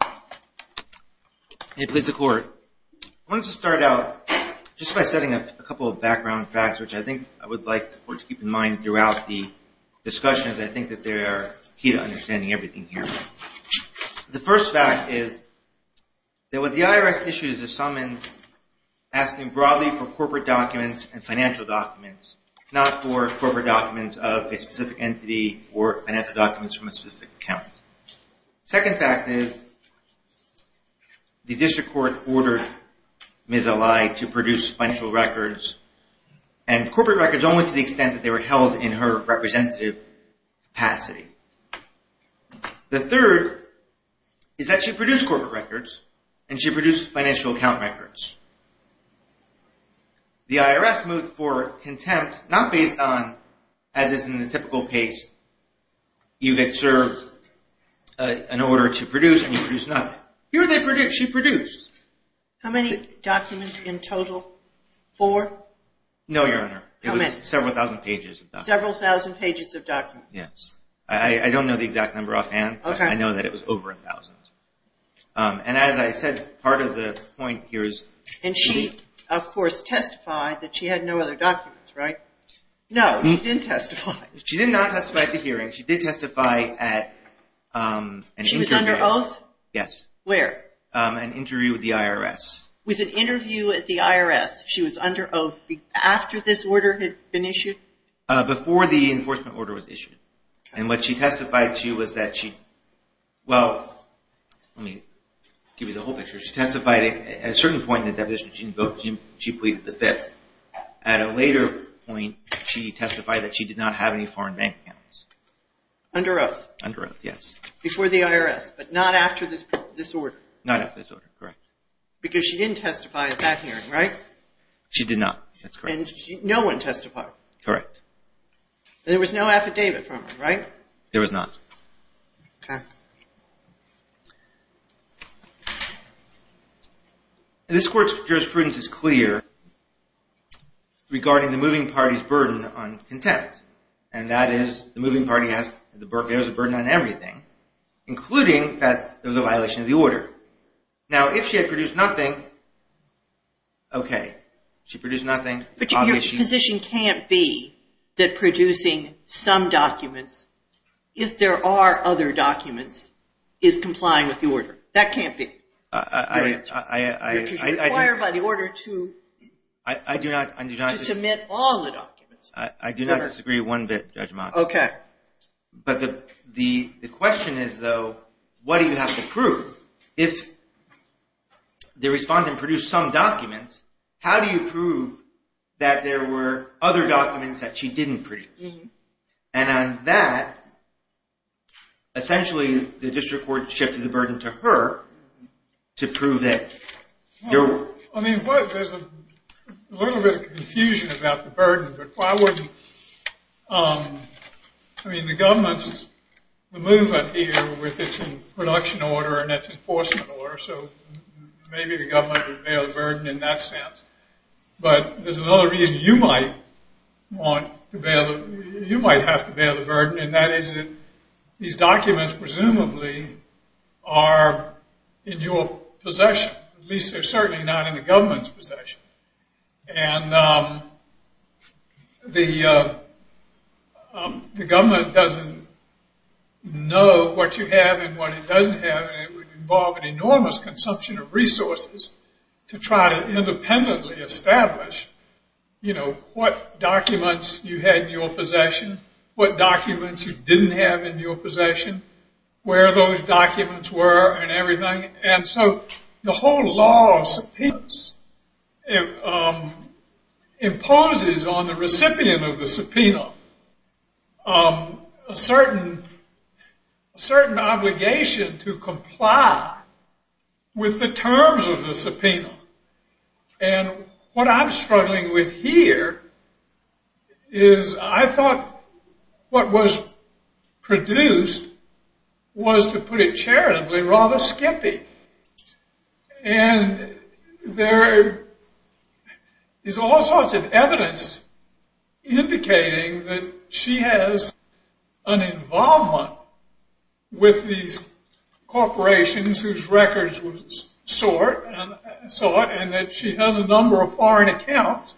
I want to start out just by setting a couple of background facts which I think I would like the court to keep in mind throughout the discussion as I think that they are key to understanding everything here. The first fact is that what the IRS issues is summons asking broadly for corporate documents and financial documents, not for corporate documents of a specific entity or financial documents from a specific account. Second fact is the district court ordered Ms. Ali to produce financial records and corporate records only to the extent that they were held in her representative capacity. The third is that she produced corporate records and she produced financial account records. The IRS moved for contempt not based on, as is in the typical case, you have served an order to produce and you produce nothing. Here she produced. How many documents in total? Four? No, Your Honor. It was several thousand pages of documents. Several thousand pages of documents. Yes. I don't know the exact number offhand, but I know that it was over a thousand. And as I said, part of the point here is... And she, of course, testified that she had no other documents, right? No, she didn't testify. She did not testify at the hearing. She did testify at... She was under oath? Yes. Where? An interview with the IRS. With an interview with the IRS. She was under oath after this order had been issued? Before the enforcement order was issued. And what she testified to was that she... Well, let me give you the whole picture. She testified at a certain point in the deposition she pleaded the fifth. At a later point, she testified that she did not have any foreign bank accounts. Under oath? Under oath, yes. Before the IRS, but not after this order? Not after this order, correct. She did not. That's correct. No one testified? Correct. There was no affidavit from her, right? There was not. Okay. This Court's jurisprudence is clear regarding the moving party's burden on contempt. And that is, the moving party has a burden on everything, including that there was a violation of the order. Now, if she had produced nothing, okay. She produced nothing. But your position can't be that producing some documents, if there are other documents, is complying with the order. That can't be. I... You're required by the order to... I do not... To submit all the documents. I do not disagree one bit, Judge Motz. Okay. But the question is, though, what do you have to prove? If the respondent produced some documents, how do you prove that there were other documents that she didn't produce? And on that, essentially, the District Court shifted the burden to her to prove that... I mean, there's a little bit of confusion about the burden, but why wouldn't... I mean, the government's... The movement here, with its production order and its enforcement order, so maybe the government would bear the burden in that sense. But there's another reason you might want to bear... You might have to bear the burden, and that is that these documents, presumably, are in your possession. At least they're certainly not in the government's possession. And the government doesn't know what you have and what it doesn't have, and it would involve an enormous consumption of resources to try to independently establish, you know, what documents you had in your possession, what documents you didn't have in your possession, where those documents were and everything. And so the whole law of subpoenas imposes on the recipient of the subpoena a certain obligation to comply with the terms of the subpoena. And what I'm struggling with here is I thought what was produced was, to put it charitably, rather skippy. And there is all sorts of evidence indicating that she has an involvement with these corporations whose records were sought, and that she has a number of foreign accounts,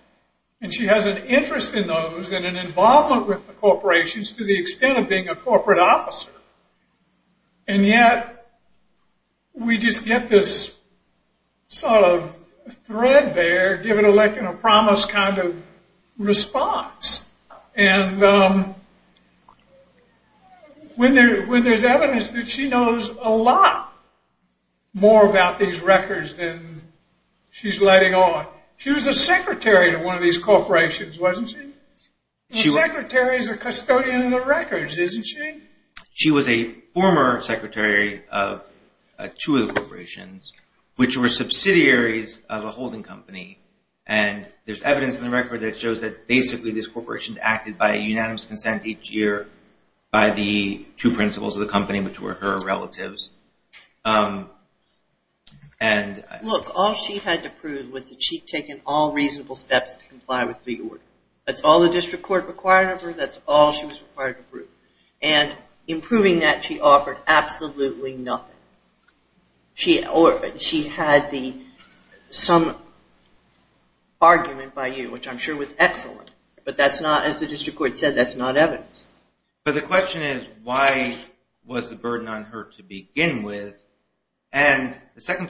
and she has an interest in those, and an involvement with the corporations to the extent of being a corporate officer. And yet, we just get this sort of thread there, give it like a promise kind of response. And when there's evidence that she knows a lot more about these records than she's letting on. She was a secretary to one of these corporations, wasn't she? A secretary is a custodian of the records, isn't she? She was a former secretary of two of the corporations, which were subsidiaries of a holding company. And there's evidence in the record that shows that basically these corporations acted by unanimous consent each year by the two principals of the company, which were her relatives. Look, all she had to prove was that she'd taken all reasonable steps to comply with the order. That's all the district court required of her. That's all she was required to prove. And in proving that, she offered absolutely nothing. She had some argument by you, which I'm sure was excellent. But that's not, as the district court said, that's not evidence. But the question is, why was the burden on her to begin with? Once the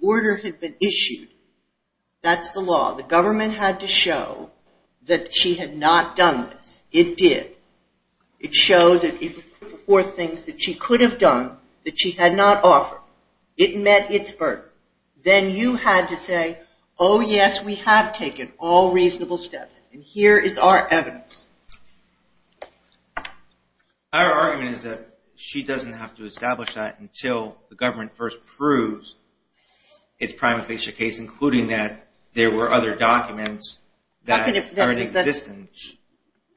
order had been issued, that's the law. The government had to show that she had not done this. It did. It showed that it was four things that she could have done that she had not offered. It met its burden. Then you had to say, oh yes, we have taken all reasonable steps. And here is our evidence. Our argument is that she doesn't have to establish that until the government first proves its prima facie case, including that there were other documents that are in existence.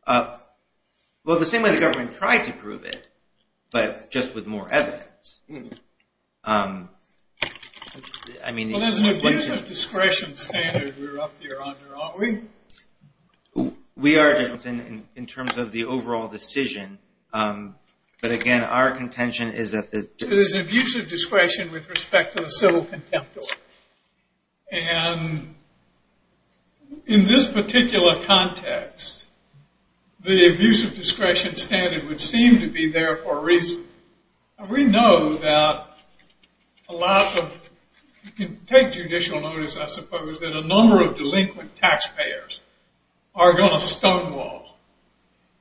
Well, the same way the government tried to prove it, but just with more evidence. Well, there's an abuse of discretion standard we're up here under, aren't we? We are, in terms of the overall decision. But again, our contention is that there's an abuse of discretion with respect to the civil contempt order. And in this particular context, the abuse of discretion standard would seem to be there for a reason. We know that a lot of, you can take judicial notice, I suppose, that a number of delinquent taxpayers are going to stonewall.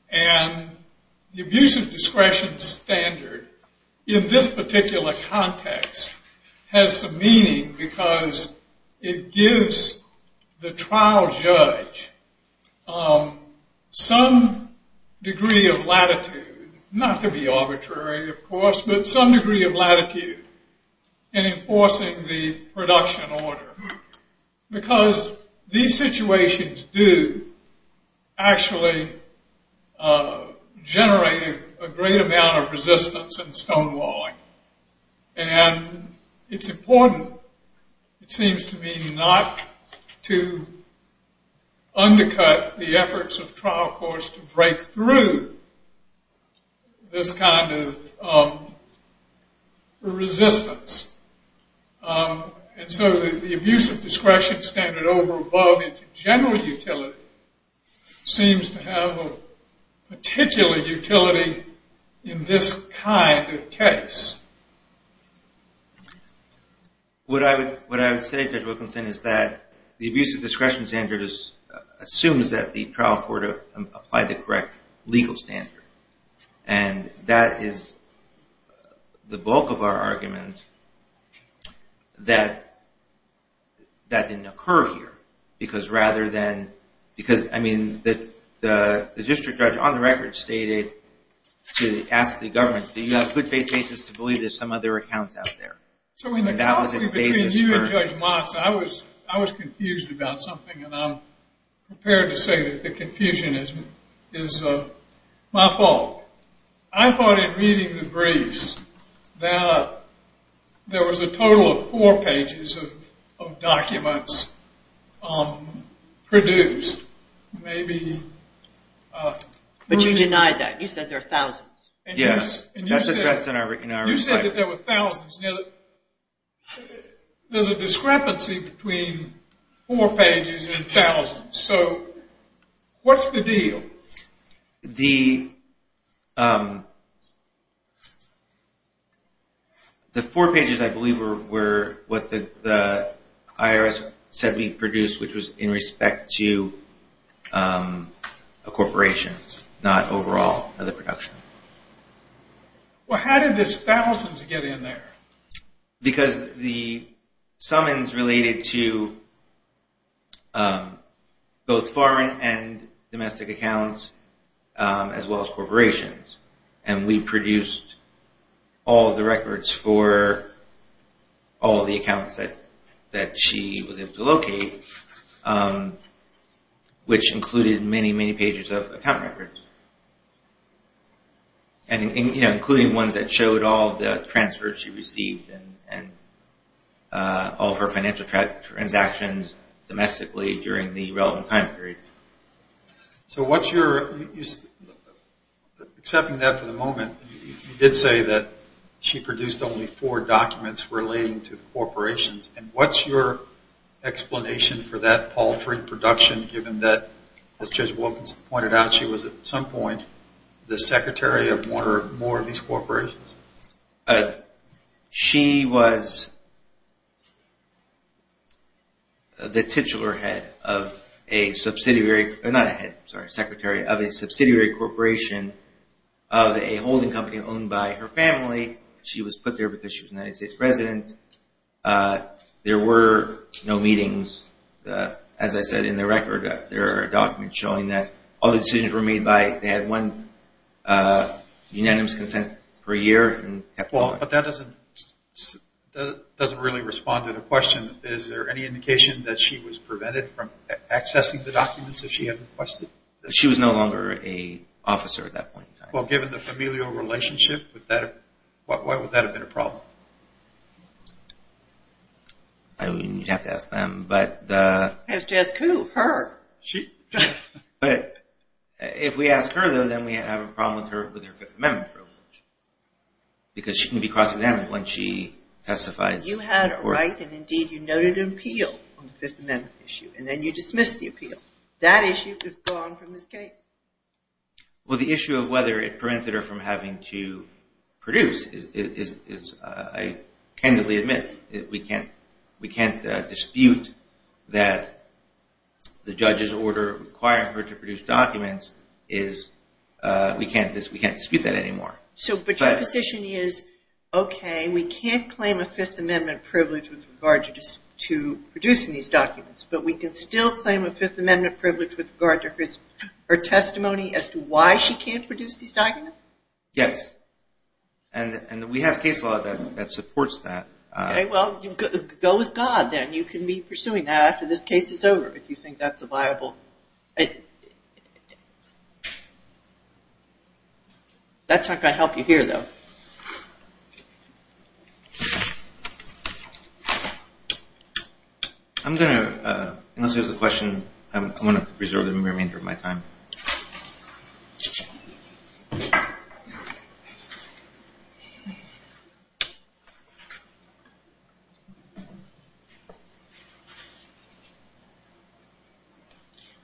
And the abuse of discretion standard in this particular context has some meaning because it gives the trial judge some degree of latitude, not to be arbitrary, of course, but some degree of latitude in enforcing the production order. Because these situations do actually generate a great amount of resistance and stonewalling. And it's important, it seems to me, not to undercut the efforts of trial courts to break through this kind of resistance. And so the abuse of discretion standard over above into general utility seems to have a particular utility in this kind of case. What I would say, Judge Wilkinson, is that the abuse of discretion standard assumes that the trial court applied the correct legal standard. And that is the bulk of our argument that that didn't occur here. Because rather than, because I mean, the district judge on the record stated to ask the government, do you have good faith basis to believe there's some other accounts out there? And that was a basis for... I was confused about something, and I'm prepared to say that the confusion is my fault. I thought in reading the briefs that there was a total of four pages of documents produced. Maybe... But you denied that. You said there are thousands. Yes, and you said that there were thousands. There's a discrepancy between four pages and thousands. So what's the deal? The... The four pages, I believe, were what the IRS said we produced, which was in respect to a corporation, not overall of the production. Well, how did this thousands get in there? Because the summons related to both foreign and domestic accounts, as well as corporations. And we produced all the records for all the accounts that she was able to locate, which included many, many pages of account records. And including ones that showed all the transfers she received and all of her financial transactions domestically during the relevant time period. So what's your... Accepting that for the moment, you did say that she produced only four documents relating to corporations. And what's your explanation for that paltry production, given that, as Judge Wilkins pointed out, she was at some point the secretary of one or more of these corporations? She was the titular head of a subsidiary... Not a head, sorry, secretary of a subsidiary corporation of a holding company owned by her family. She was put there because she was a United States president. There were no meetings. As I said, in the record, there are documents showing that all the decisions were made by... They had one unanimous consent per year. But that doesn't really respond to the question. Is there any indication that she was prevented from accessing the documents that she had requested? Well, given the familial relationship, why would that have been a problem? You'd have to ask them, but... You'd have to ask who? Her. If we ask her, though, then we have a problem with her Fifth Amendment privilege. Because she can be cross-examined when she testifies. You had a right, and indeed you noted an appeal on the Fifth Amendment issue, and then you dismissed the appeal. That issue is gone from this case. Well, the issue of whether it prevents her from having to produce is... I candidly admit we can't dispute that the judge's order requiring her to produce documents is... We can't dispute that anymore. But your position is, okay, we can't claim a Fifth Amendment privilege with regard to producing these documents, but we can still claim a Fifth Amendment privilege with regard to her testimony as to why she can't produce these documents? Yes. And we have case law that supports that. Okay, well, go with God, then. You can be pursuing that after this case is over, if you think that's a viable... That's not going to help you here, though. Okay. I'm going to, unless there's a question, I'm going to reserve the remainder of my time.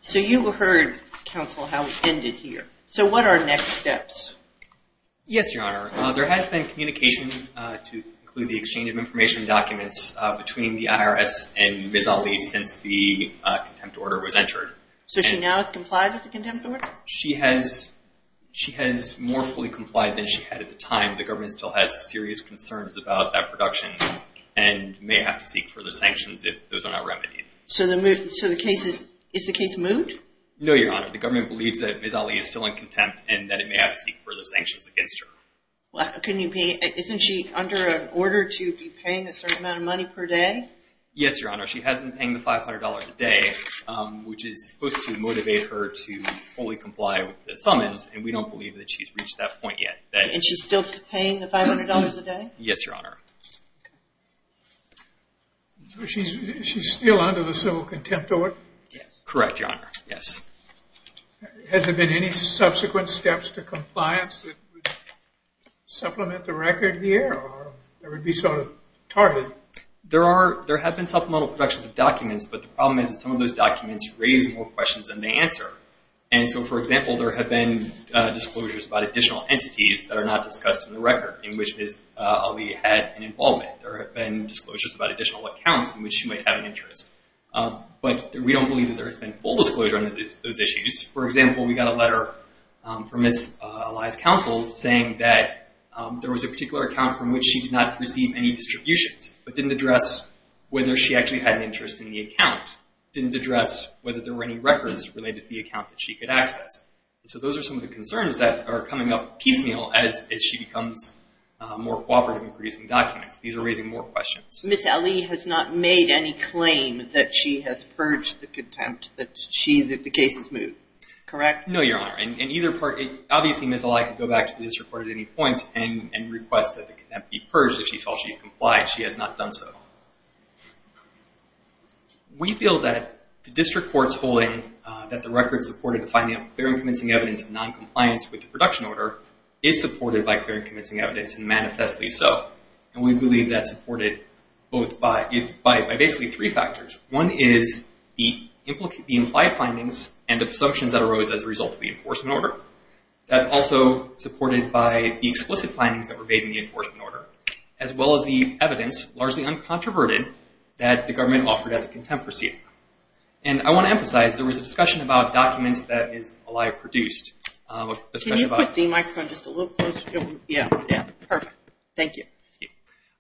So you heard, counsel, how we ended here. So what are next steps? Yes, Your Honor. There has been communication to include the exchange of information documents between the IRS and Ms. Ali since the contempt order was entered. So she now has complied with the contempt order? She has more fully complied than she had at the time. The government still has serious concerns about that production and may have to seek further sanctions if those are not remedied. So the case is... Is the case moved? No, Your Honor. The government believes that Ms. Ali is still in contempt and that it may have to seek further sanctions against her. Isn't she under an order to be paying a certain amount of money per day? Yes, Your Honor. She has been paying the $500 a day, which is supposed to motivate her to fully comply with the summons, and we don't believe that she's reached that point yet. And she's still paying the $500 a day? Yes, Your Honor. So she's still under the civil contempt order? Correct, Your Honor. Yes. Has there been any subsequent steps to compliance that would supplement the record here or that would be sort of targeted? There have been supplemental productions of documents, but the problem is that some of those documents raise more questions than they answer. And so, for example, there have been disclosures about additional entities that are not discussed in the record in which Ms. Ali had an involvement. There have been disclosures about additional accounts in which she might have an interest. But we don't believe that there has been full disclosure on those issues. For example, we got a letter from Ms. Ali's counsel saying that there was a particular account from which she did not receive any distributions but didn't address whether she actually had an interest in the account, didn't address whether there were any records related to the account that she could access. And so those are some of the concerns that are coming up piecemeal as she becomes more cooperative in producing documents. These are raising more questions. Ms. Ali has not made any claim that she has purged the contempt that the case has moved, correct? No, Your Honor. In either part, obviously Ms. Ali could go back to the district court at any point and request that the contempt be purged if she felt she had complied. She has not done so. We feel that the district court's holding that the record supported the finding of clear and convincing evidence of noncompliance with the production order is supported by clear and convincing evidence and manifestly so. And we believe that's supported by basically three factors. One is the implied findings and the assumptions that arose as a result of the enforcement order. That's also supported by the explicit findings that were made in the enforcement order, as well as the evidence, largely uncontroverted, that the government offered at the contempt proceeding. And I want to emphasize there was a discussion about documents that Ms. Ali produced. Can you put the microphone just a little closer? Perfect. Thank you.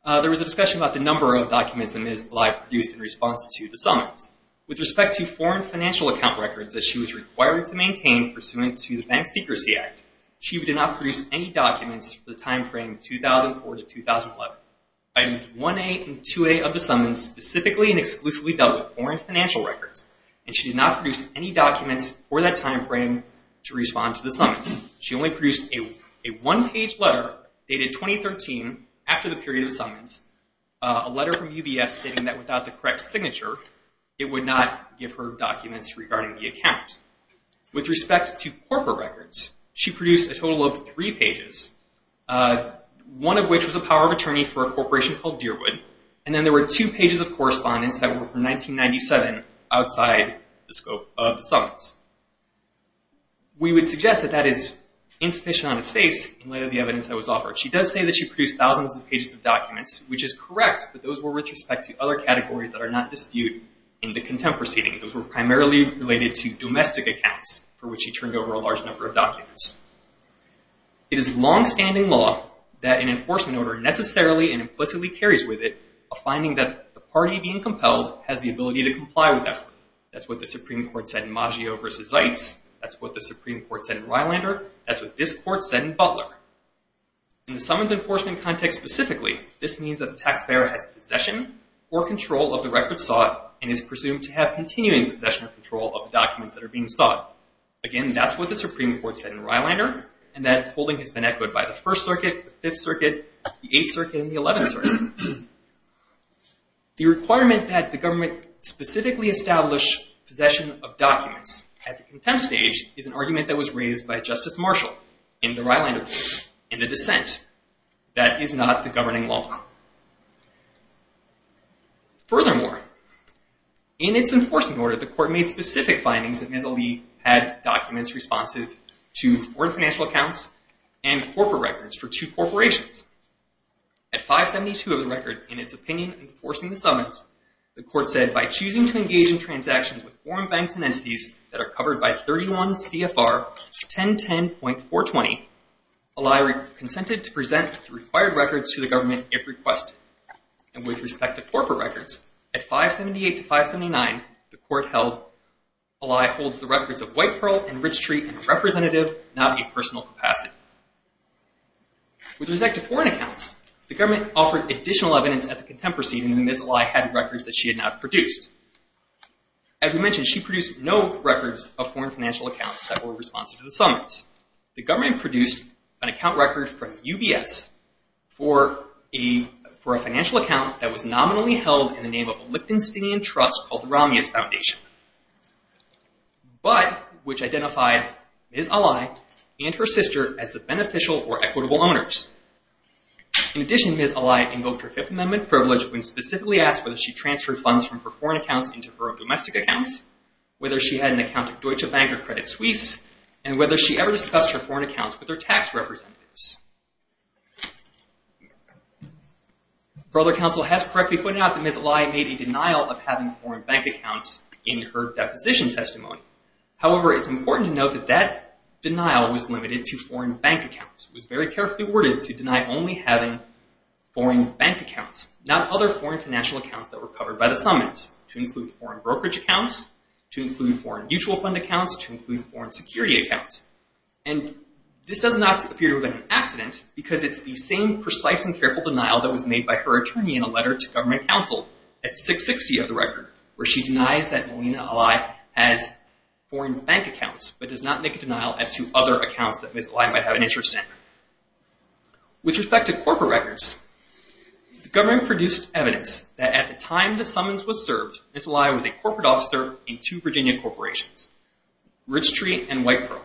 There was a discussion about the number of documents that Ms. Ali produced in response to the summons. With respect to foreign financial account records that she was required to maintain pursuant to the Bank Secrecy Act, she did not produce any documents for the time frame 2004 to 2011. Items 1A and 2A of the summons specifically and exclusively dealt with foreign financial records, and she did not produce any documents for that time frame to respond to the summons. She only produced a one-page letter dated 2013 after the period of summons, a letter from UBS stating that without the correct signature, it would not give her documents regarding the account. With respect to corporate records, she produced a total of three pages, one of which was a power of attorney for a corporation called Deerwood, and then there were two pages of correspondence that were from 1997 outside the scope of the summons. We would suggest that that is insufficient on its face in light of the evidence that was offered. She does say that she produced thousands of pages of documents, which is correct, but those were with respect to other categories that are not disputed in the contempt proceedings. Those were primarily related to domestic accounts for which she turned over a large number of documents. It is longstanding law that an enforcement order necessarily and implicitly carries with it a finding that the party being compelled has the ability to comply with that. That's what the Supreme Court said in Maggio v. Zeitz. That's what the Supreme Court said in Rylander. That's what this court said in Butler. In the summons enforcement context specifically, this means that the taxpayer has possession or control of the records sought and is presumed to have continuing possession or control of the documents that are being sought. Again, that's what the Supreme Court said in Rylander, and that holding has been echoed by the First Circuit, the Fifth Circuit, the Eighth Circuit, and the Eleventh Circuit. The requirement that the government specifically establish possession of documents at the contempt stage is an argument that was raised by Justice Marshall in the Rylander case, in the dissent. That is not the governing law. Furthermore, in its enforcement order, the court made specific findings that Ms. Ali had documents responsive to foreign financial accounts and corporate records for two corporations. At 572 of the record, in its opinion enforcing the summons, the court said, by choosing to engage in transactions with foreign banks and entities that are covered by 31 CFR 1010.420, Ali consented to present the required records to the government if requested. And with respect to corporate records, at 578 to 579, the court held, Ali holds the records of White Pearl and Ridgetree in a representative, not a personal, capacity. With respect to foreign accounts, the government offered additional evidence at the contempt proceeding that Ms. Ali had records that she had not produced. As we mentioned, she produced no records of foreign financial accounts that were responsive to the summons. The government produced an account record from UBS for a financial account that was nominally held in the name of a Liptonsteinian trust called the Romulus Foundation. But, which identified Ms. Ali and her sister as the beneficial or equitable owners. In addition, Ms. Ali invoked her Fifth Amendment privilege when specifically asked whether she transferred funds from her foreign accounts into her own domestic accounts, whether she had an account at Deutsche Bank or Credit Suisse, and whether she ever discussed her foreign accounts with her tax representatives. Brother Counsel has correctly pointed out that Ms. Ali made a denial of having foreign bank accounts in her deposition testimony. However, it's important to note that that denial was limited to foreign bank accounts. It was very carefully worded to deny only having foreign bank accounts, not other foreign financial accounts that were covered by the summons, to include foreign brokerage accounts, to include foreign mutual fund accounts, to include foreign security accounts. And this does not appear to have been an accident, because it's the same precise and careful denial that was made by her attorney in a letter to government counsel at 660 of the record, where she denies that Melina Ali has foreign bank accounts, but does not make a denial as to other accounts that Ms. Ali might have an interest in. With respect to corporate records, the government produced evidence that at the time the summons was served, Ms. Ali was a corporate officer in two Virginia corporations, Rich Tree and White Pearl.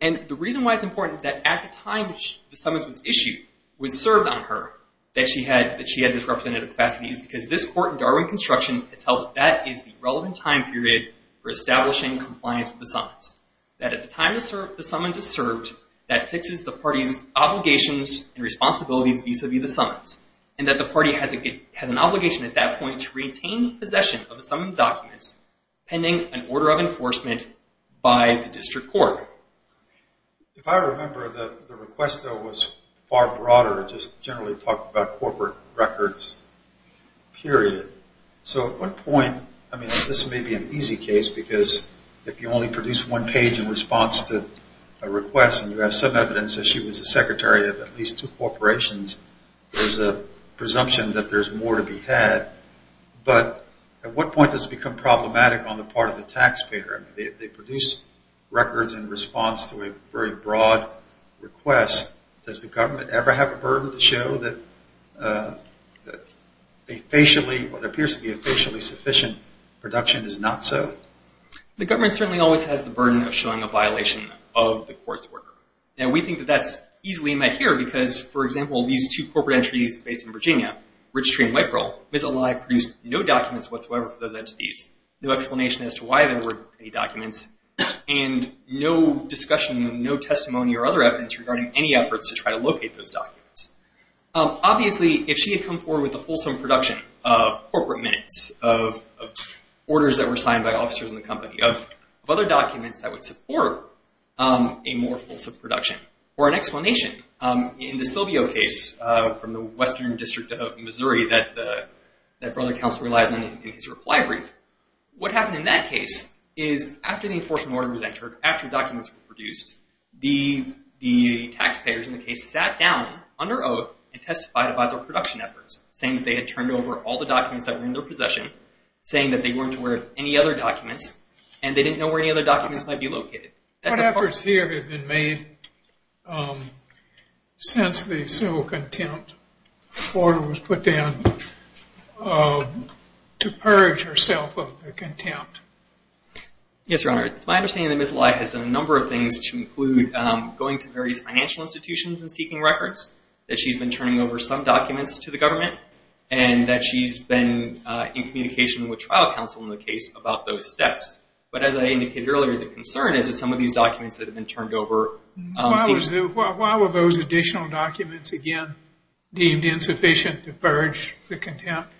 And the reason why it's important that at the time the summons was issued, was served on her, that she had this representative capacity, is because this court in Darwin Construction has held that that is the relevant time period for establishing compliance with the summons. That at the time the summons is served, that fixes the party's obligations and responsibilities vis-a-vis the summons, and that the party has an obligation at that point to retain possession of the summons documents pending an order of enforcement by the district court. If I remember, the request, though, was far broader. It just generally talked about corporate records, period. So at what point, I mean, this may be an easy case, because if you only produce one page in response to a request, and you have some evidence that she was a secretary of at least two corporations, there's a presumption that there's more to be had. But at what point does it become problematic on the part of the taxpayer? If they produce records in response to a very broad request, does the government ever have a burden to show that a facially, what appears to be a facially sufficient production is not so? The government certainly always has the burden of showing a violation of the court's order. And we think that that's easily met here because, for example, Ms. Alai produced no documents whatsoever for those entities, no explanation as to why there weren't any documents, and no discussion, no testimony or other evidence regarding any efforts to try to locate those documents. Obviously, if she had come forward with a fulsome production of corporate minutes, of orders that were signed by officers in the company, of other documents that would support a more fulsome production, or an explanation. In the Silvio case, from the Western District of Missouri, that Brother Counsel relies on in his reply brief, what happened in that case is, after the enforcement order was entered, after documents were produced, the taxpayers in the case sat down, under oath, and testified about their production efforts, saying that they had turned over all the documents that were in their possession, saying that they weren't aware of any other documents, and they didn't know where any other documents might be located. What efforts here have been made since the civil contempt order was put down to purge herself of the contempt? Yes, Your Honor. It's my understanding that Ms. Alai has done a number of things to include going to various financial institutions and seeking records, that she's been turning over some documents to the government, and that she's been in communication with trial counsel in the case about those steps. But as I indicated earlier, the concern is that some of these documents that have been turned over seem to be... Why were those additional documents, again, deemed insufficient to purge the contempt?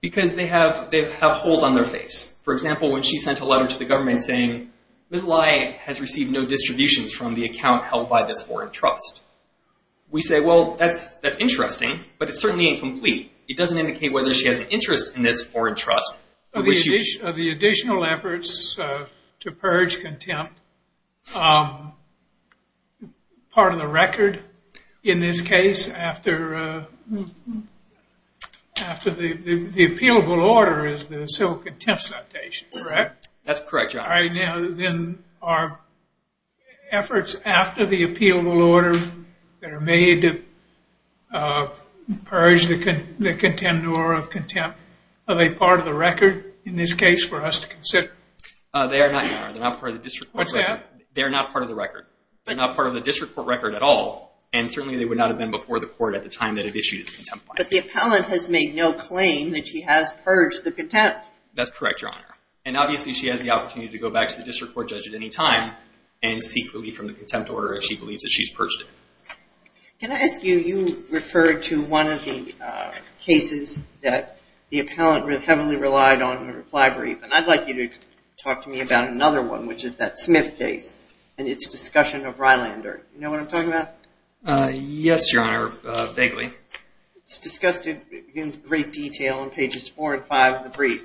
Because they have holes on their face. For example, when she sent a letter to the government saying, Ms. Alai has received no distributions from the account held by this foreign trust. We say, well, that's interesting, but it's certainly incomplete. It doesn't indicate whether she has an interest in this foreign trust. The additional efforts to purge contempt, part of the record in this case, after the appealable order is the Civil Contempt Citation, correct? That's correct, Your Honor. Then are efforts after the appealable order that are made to purge the contempt of a part of the record in this case for us to consider? They are not, Your Honor. They're not part of the district court record. What's that? They're not part of the record. They're not part of the district court record at all, and certainly they would not have been before the court at the time that it issued its contempt finding. But the appellant has made no claim that she has purged the contempt. That's correct, Your Honor. And obviously she has the opportunity to go back to the district court judge at any time and seek relief from the contempt order if she believes that she's purged it. Can I ask you, you referred to one of the cases that the appellant heavily relied on in the reply brief, and I'd like you to talk to me about another one, which is that Smith case and its discussion of Rylander. Do you know what I'm talking about? Yes, Your Honor, vaguely. It's discussed in great detail on pages four and five of the brief,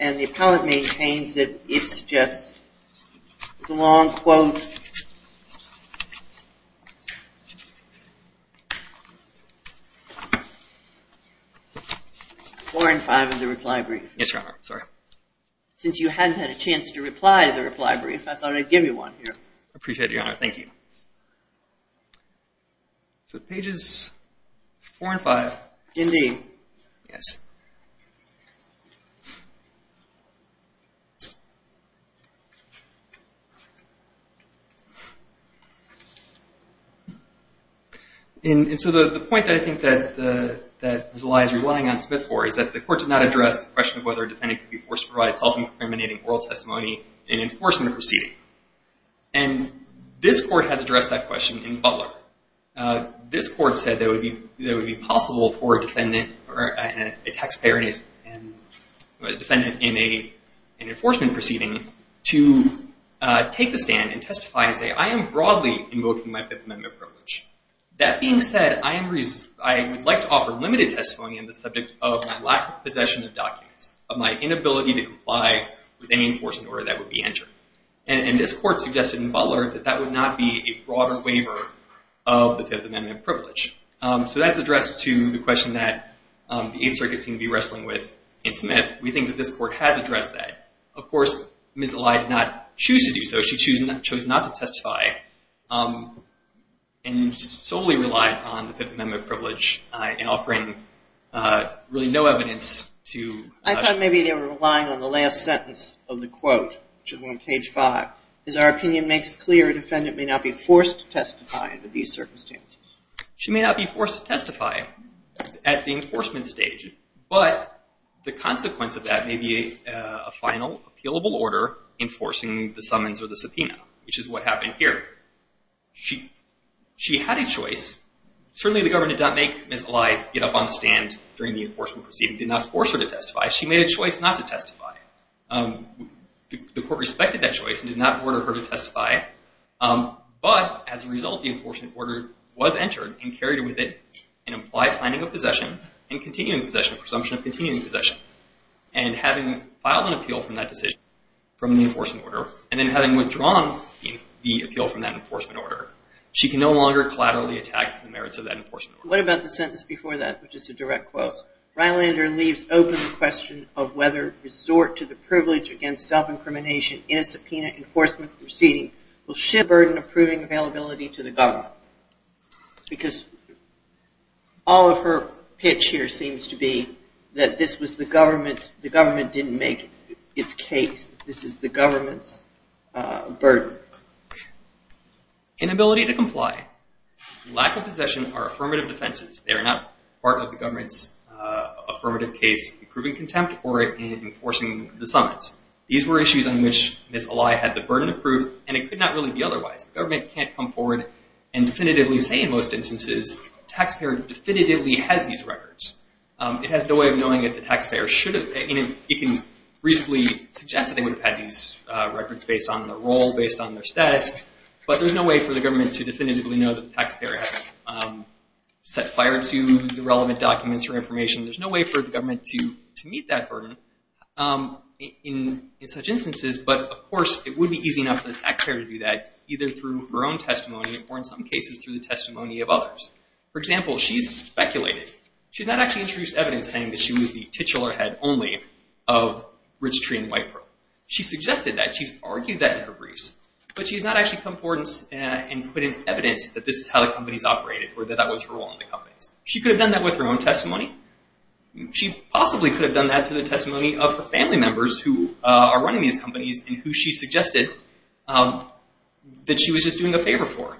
and the appellant maintains that it's just the long quote four and five of the reply brief. Yes, Your Honor. Sorry. Since you hadn't had a chance to reply to the reply brief, I thought I'd give you one here. I appreciate it, Your Honor. Thank you. So pages four and five. Indeed. Yes. And so the point, I think, that Ms. Elias is relying on Smith for is that the court did not address the question of whether a defendant could be forced to provide self-incriminating oral testimony in an enforcement proceeding. And this court has addressed that question in Butler. This court said that it would be possible for a defendant in an enforcement proceeding to take the stand and testify and say, I am broadly invoking my Fifth Amendment privilege. That being said, I would like to offer limited testimony on the subject of my lack of possession of documents, of my inability to comply with any enforcement order that would be entered. And this court suggested in Butler that that would not be a broader waiver of the Fifth Amendment privilege. So that's addressed to the question that the Eighth Circuit seemed to be wrestling with in Smith. We think that this court has addressed that. Of course, Ms. Elias did not choose to do so. She chose not to testify and solely relied on the Fifth Amendment privilege in offering really no evidence to. I thought maybe they were relying on the last sentence of the quote, which is on page five. As our opinion makes clear, a defendant may not be forced to testify under these circumstances. She may not be forced to testify at the enforcement stage, but the consequence of that may be a final, appealable order enforcing the summons or the subpoena, which is what happened here. She had a choice. Certainly the government did not make Ms. Elias get up on the stand during the enforcement proceeding. It did not force her to testify. She made a choice not to testify. The court respected that choice and did not order her to testify. But as a result, the enforcement order was entered and carried with it an implied finding of possession and continuing possession, a presumption of continuing possession. And having filed an appeal from that decision, from the enforcement order, and then having withdrawn the appeal from that enforcement order, she can no longer collaterally attack the merits of that enforcement order. What about the sentence before that, which is a direct quote? Rylander leaves open the question of whether to resort to the privilege against self-incrimination in a subpoena enforcement proceeding. Will she burden approving availability to the government? Because all of her pitch here seems to be that this was the government. The government didn't make its case. This is the government's burden. Inability to comply. Lack of possession are affirmative defenses. They are not part of the government's affirmative case in proving contempt or in enforcing the summons. These were issues on which Ms. Eli had the burden of proof, and it could not really be otherwise. The government can't come forward and definitively say, in most instances, the taxpayer definitively has these records. It has no way of knowing if the taxpayer should have. It can reasonably suggest that they would have had these records based on their role, based on their status, but there's no way for the government to definitively know that the taxpayer has set fire to the relevant documents or information. There's no way for the government to meet that burden in such instances, but, of course, it would be easy enough for the taxpayer to do that, either through her own testimony or, in some cases, through the testimony of others. For example, she's speculated. She's not actually introduced evidence saying that she was the titular head only of Rich Tree and White Pearl. She suggested that. She's argued that in her briefs, but she's not actually come forward and put in evidence that this is how the companies operated or that that was her role in the companies. She could have done that with her own testimony. She possibly could have done that through the testimony of her family members who are running these companies and who she suggested that she was just doing a favor for.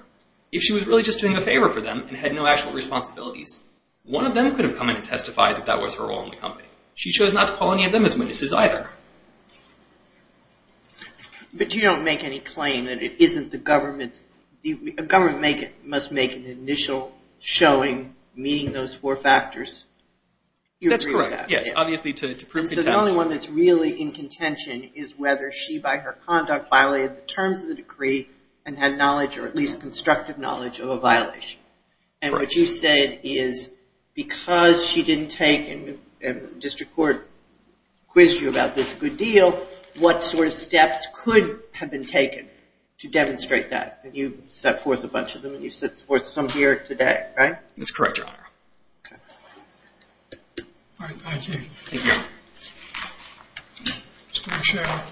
If she was really just doing a favor for them and had no actual responsibilities, one of them could have come in and testified that that was her role in the company. She chose not to call any of them as witnesses, either. But you don't make any claim that it isn't the government. A government must make an initial showing meeting those four factors. That's correct. Yes, obviously, to prove contention. So the only one that's really in contention is whether she, by her conduct, violated the terms of the decree and had knowledge or at least constructive knowledge of a violation. And what you said is because she didn't take and district court quizzed you about this a good deal, what sort of steps could have been taken to demonstrate that? And you set forth a bunch of them and you set forth some here today, right? That's correct, Your Honor. All right, thank you. Thank you. All right.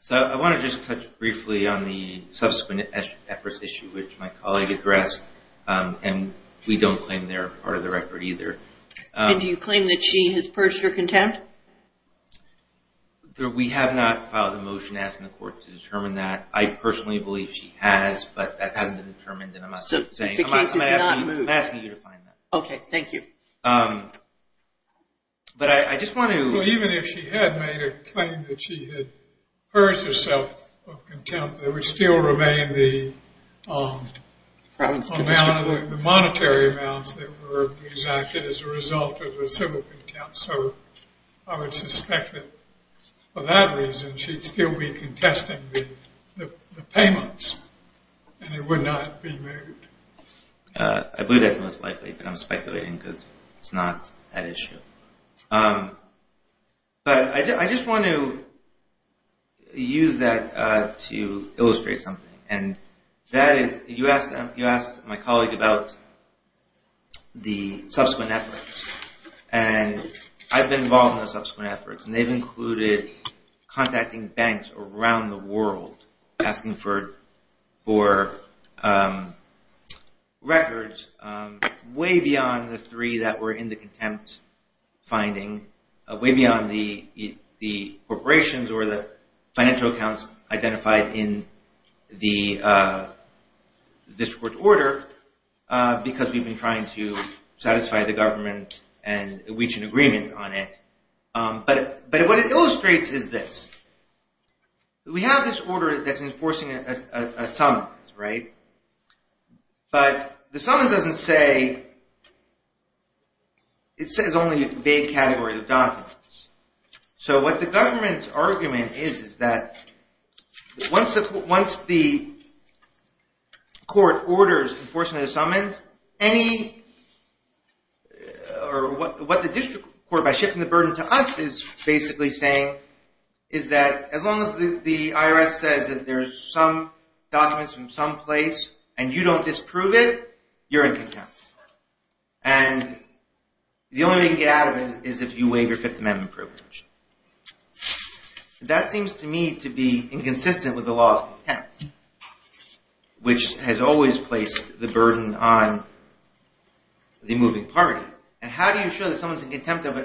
So I want to just touch briefly on the subsequent efforts issue which my colleague addressed, and we don't claim they're part of the record either. And do you claim that she has purged your contempt? We have not filed a motion asking the court to determine that. I personally believe she has, but that hasn't been determined. So the case is not moved. I'm asking you to find that. Okay, thank you. But I just want to. Well, even if she had made a claim that she had purged herself of contempt, there would still remain the monetary amounts that were exacted as a result of her civil contempt. So I would suspect that for that reason she'd still be contesting the payments, and it would not be moved. I believe that's most likely, but I'm speculating because it's not that issue. But I just want to use that to illustrate something. You asked my colleague about the subsequent efforts, and I've been involved in those subsequent efforts, and they've included contacting banks around the world, asking for records way beyond the three that were in the contempt finding, way beyond the corporations or the financial accounts identified in the district court's order, because we've been trying to satisfy the government and reach an agreement on it. But what it illustrates is this. We have this order that's enforcing a summons, right? But the summons doesn't say – it says only a vague category of documents. So what the government's argument is is that once the court orders enforcement of the summons, what the district court, by shifting the burden to us, is basically saying is that as long as the IRS says that there's some documents from some place, and you don't disprove it, you're in contempt. And the only way you can get out of it is if you waive your Fifth Amendment privilege. That seems to me to be inconsistent with the law of contempt, which has always placed the burden on the moving party. And how do you show that someone's in contempt of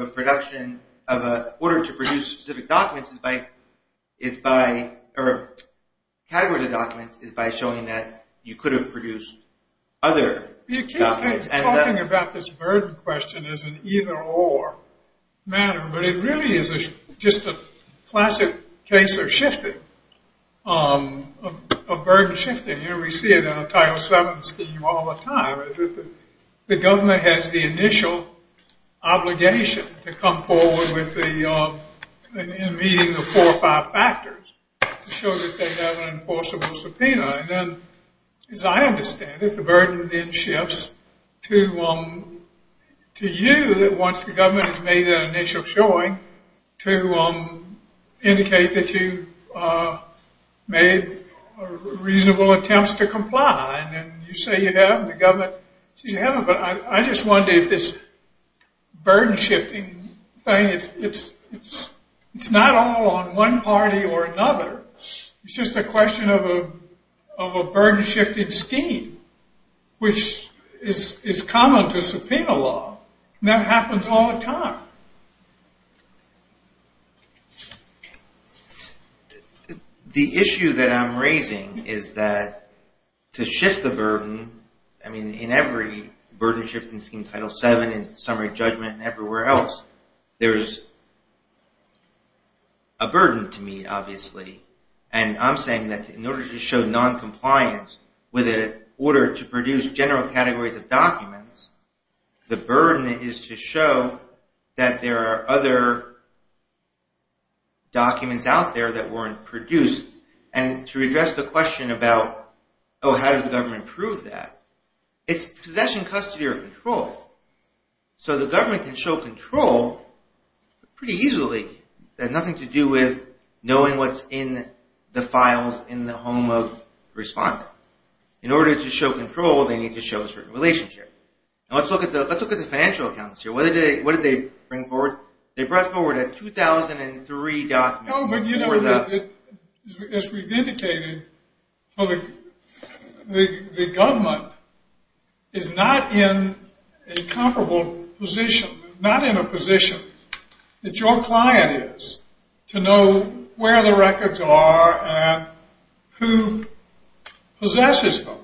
a production – of an order to produce specific documents is by – or a category of documents is by showing that you could have produced other documents. You keep talking about this burden question as an either-or matter, but it really is just a classic case of shifting, of burden shifting. You know, we see it in a Title VII scheme all the time. The government has the initial obligation to come forward with the – in meeting the four or five factors to show that they have an enforceable subpoena. And then, as I understand it, the burden then shifts to you, that once the government has made an initial showing, to indicate that you've made reasonable attempts to comply. And you say you have, and the government says you haven't. But I just wonder if this burden shifting thing – it's not all on one party or another. It's just a question of a burden shifting scheme, which is common to subpoena law. That happens all the time. The issue that I'm raising is that to shift the burden – I mean, in every burden shifting scheme, Title VII, in summary judgment, and everywhere else, there is a burden to meet, obviously. And I'm saying that in order to show noncompliance, with an order to produce general categories of documents, the burden is to show that there are other documents out there that weren't produced. And to address the question about, oh, how does the government prove that? It's possession, custody, or control. So the government can show control pretty easily. It has nothing to do with knowing what's in the files in the home of the respondent. In order to show control, they need to show a certain relationship. Let's look at the financial accounts here. What did they bring forward? They brought forward a 2003 document. As we've indicated, the government is not in a comparable position – not in a position that your client is to know where the records are and who possesses them.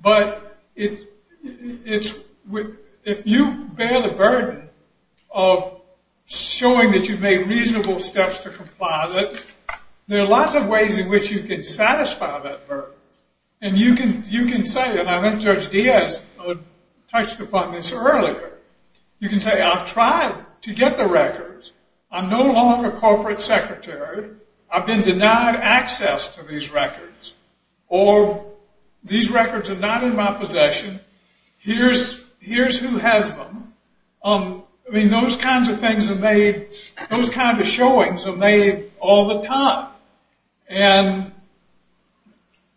But if you bear the burden of showing that you've made reasonable steps to comply with it, there are lots of ways in which you can satisfy that burden. And you can say – and I think Judge Diaz touched upon this earlier – you can say, I've tried to get the records. I'm no longer corporate secretary. I've been denied access to these records. Or these records are not in my possession. Here's who has them. I mean, those kinds of things are made – those kind of showings are made all the time. And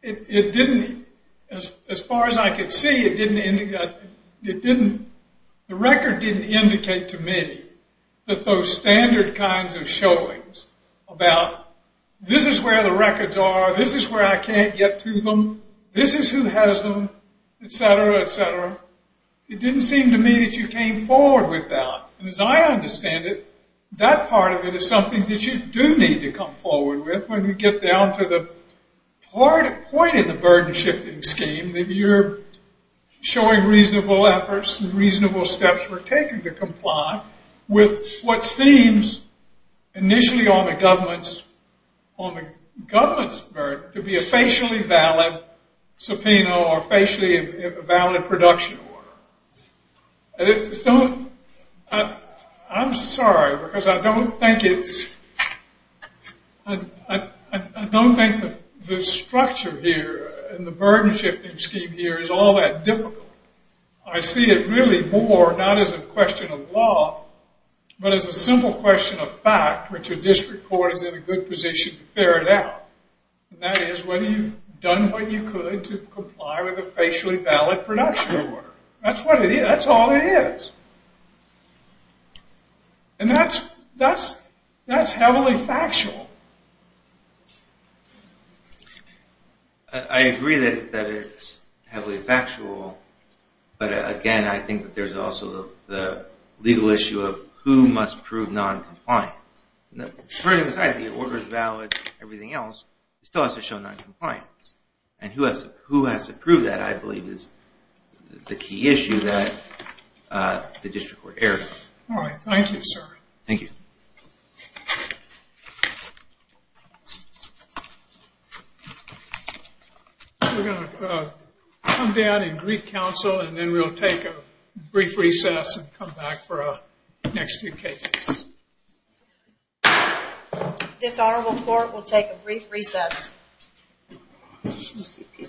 it didn't – as far as I could see, it didn't – the record didn't indicate to me that those standard kinds of showings about this is where the records are, this is where I can't get to them, this is who has them, etc., etc. It didn't seem to me that you came forward with that. And as I understand it, that part of it is something that you do need to come forward with when you get down to the point in the burden-shifting scheme that you're showing reasonable efforts and reasonable steps were taken to comply with what seems initially on the government's – on the government's burden to be a facially valid subpoena or facially valid production order. And it's – I'm sorry, because I don't think it's – I don't think the structure here in the burden-shifting scheme here is all that difficult. I see it really more not as a question of law, but as a simple question of fact, which a district court is in a good position to ferret out. And that is whether you've done what you could to comply with a facially valid production order. That's what it is. That's all it is. And that's – that's heavily factual. I agree that it's heavily factual. But again, I think that there's also the legal issue of who must prove noncompliance. The burden aside, the order is valid, everything else still has to show noncompliance. And who has to prove that, I believe, is the key issue that the district court erred on. All right. Thank you, sir. Thank you. We're going to come down and brief counsel, and then we'll take a brief recess and come back for our next two cases. This honorable court will take a brief recess. Thank you.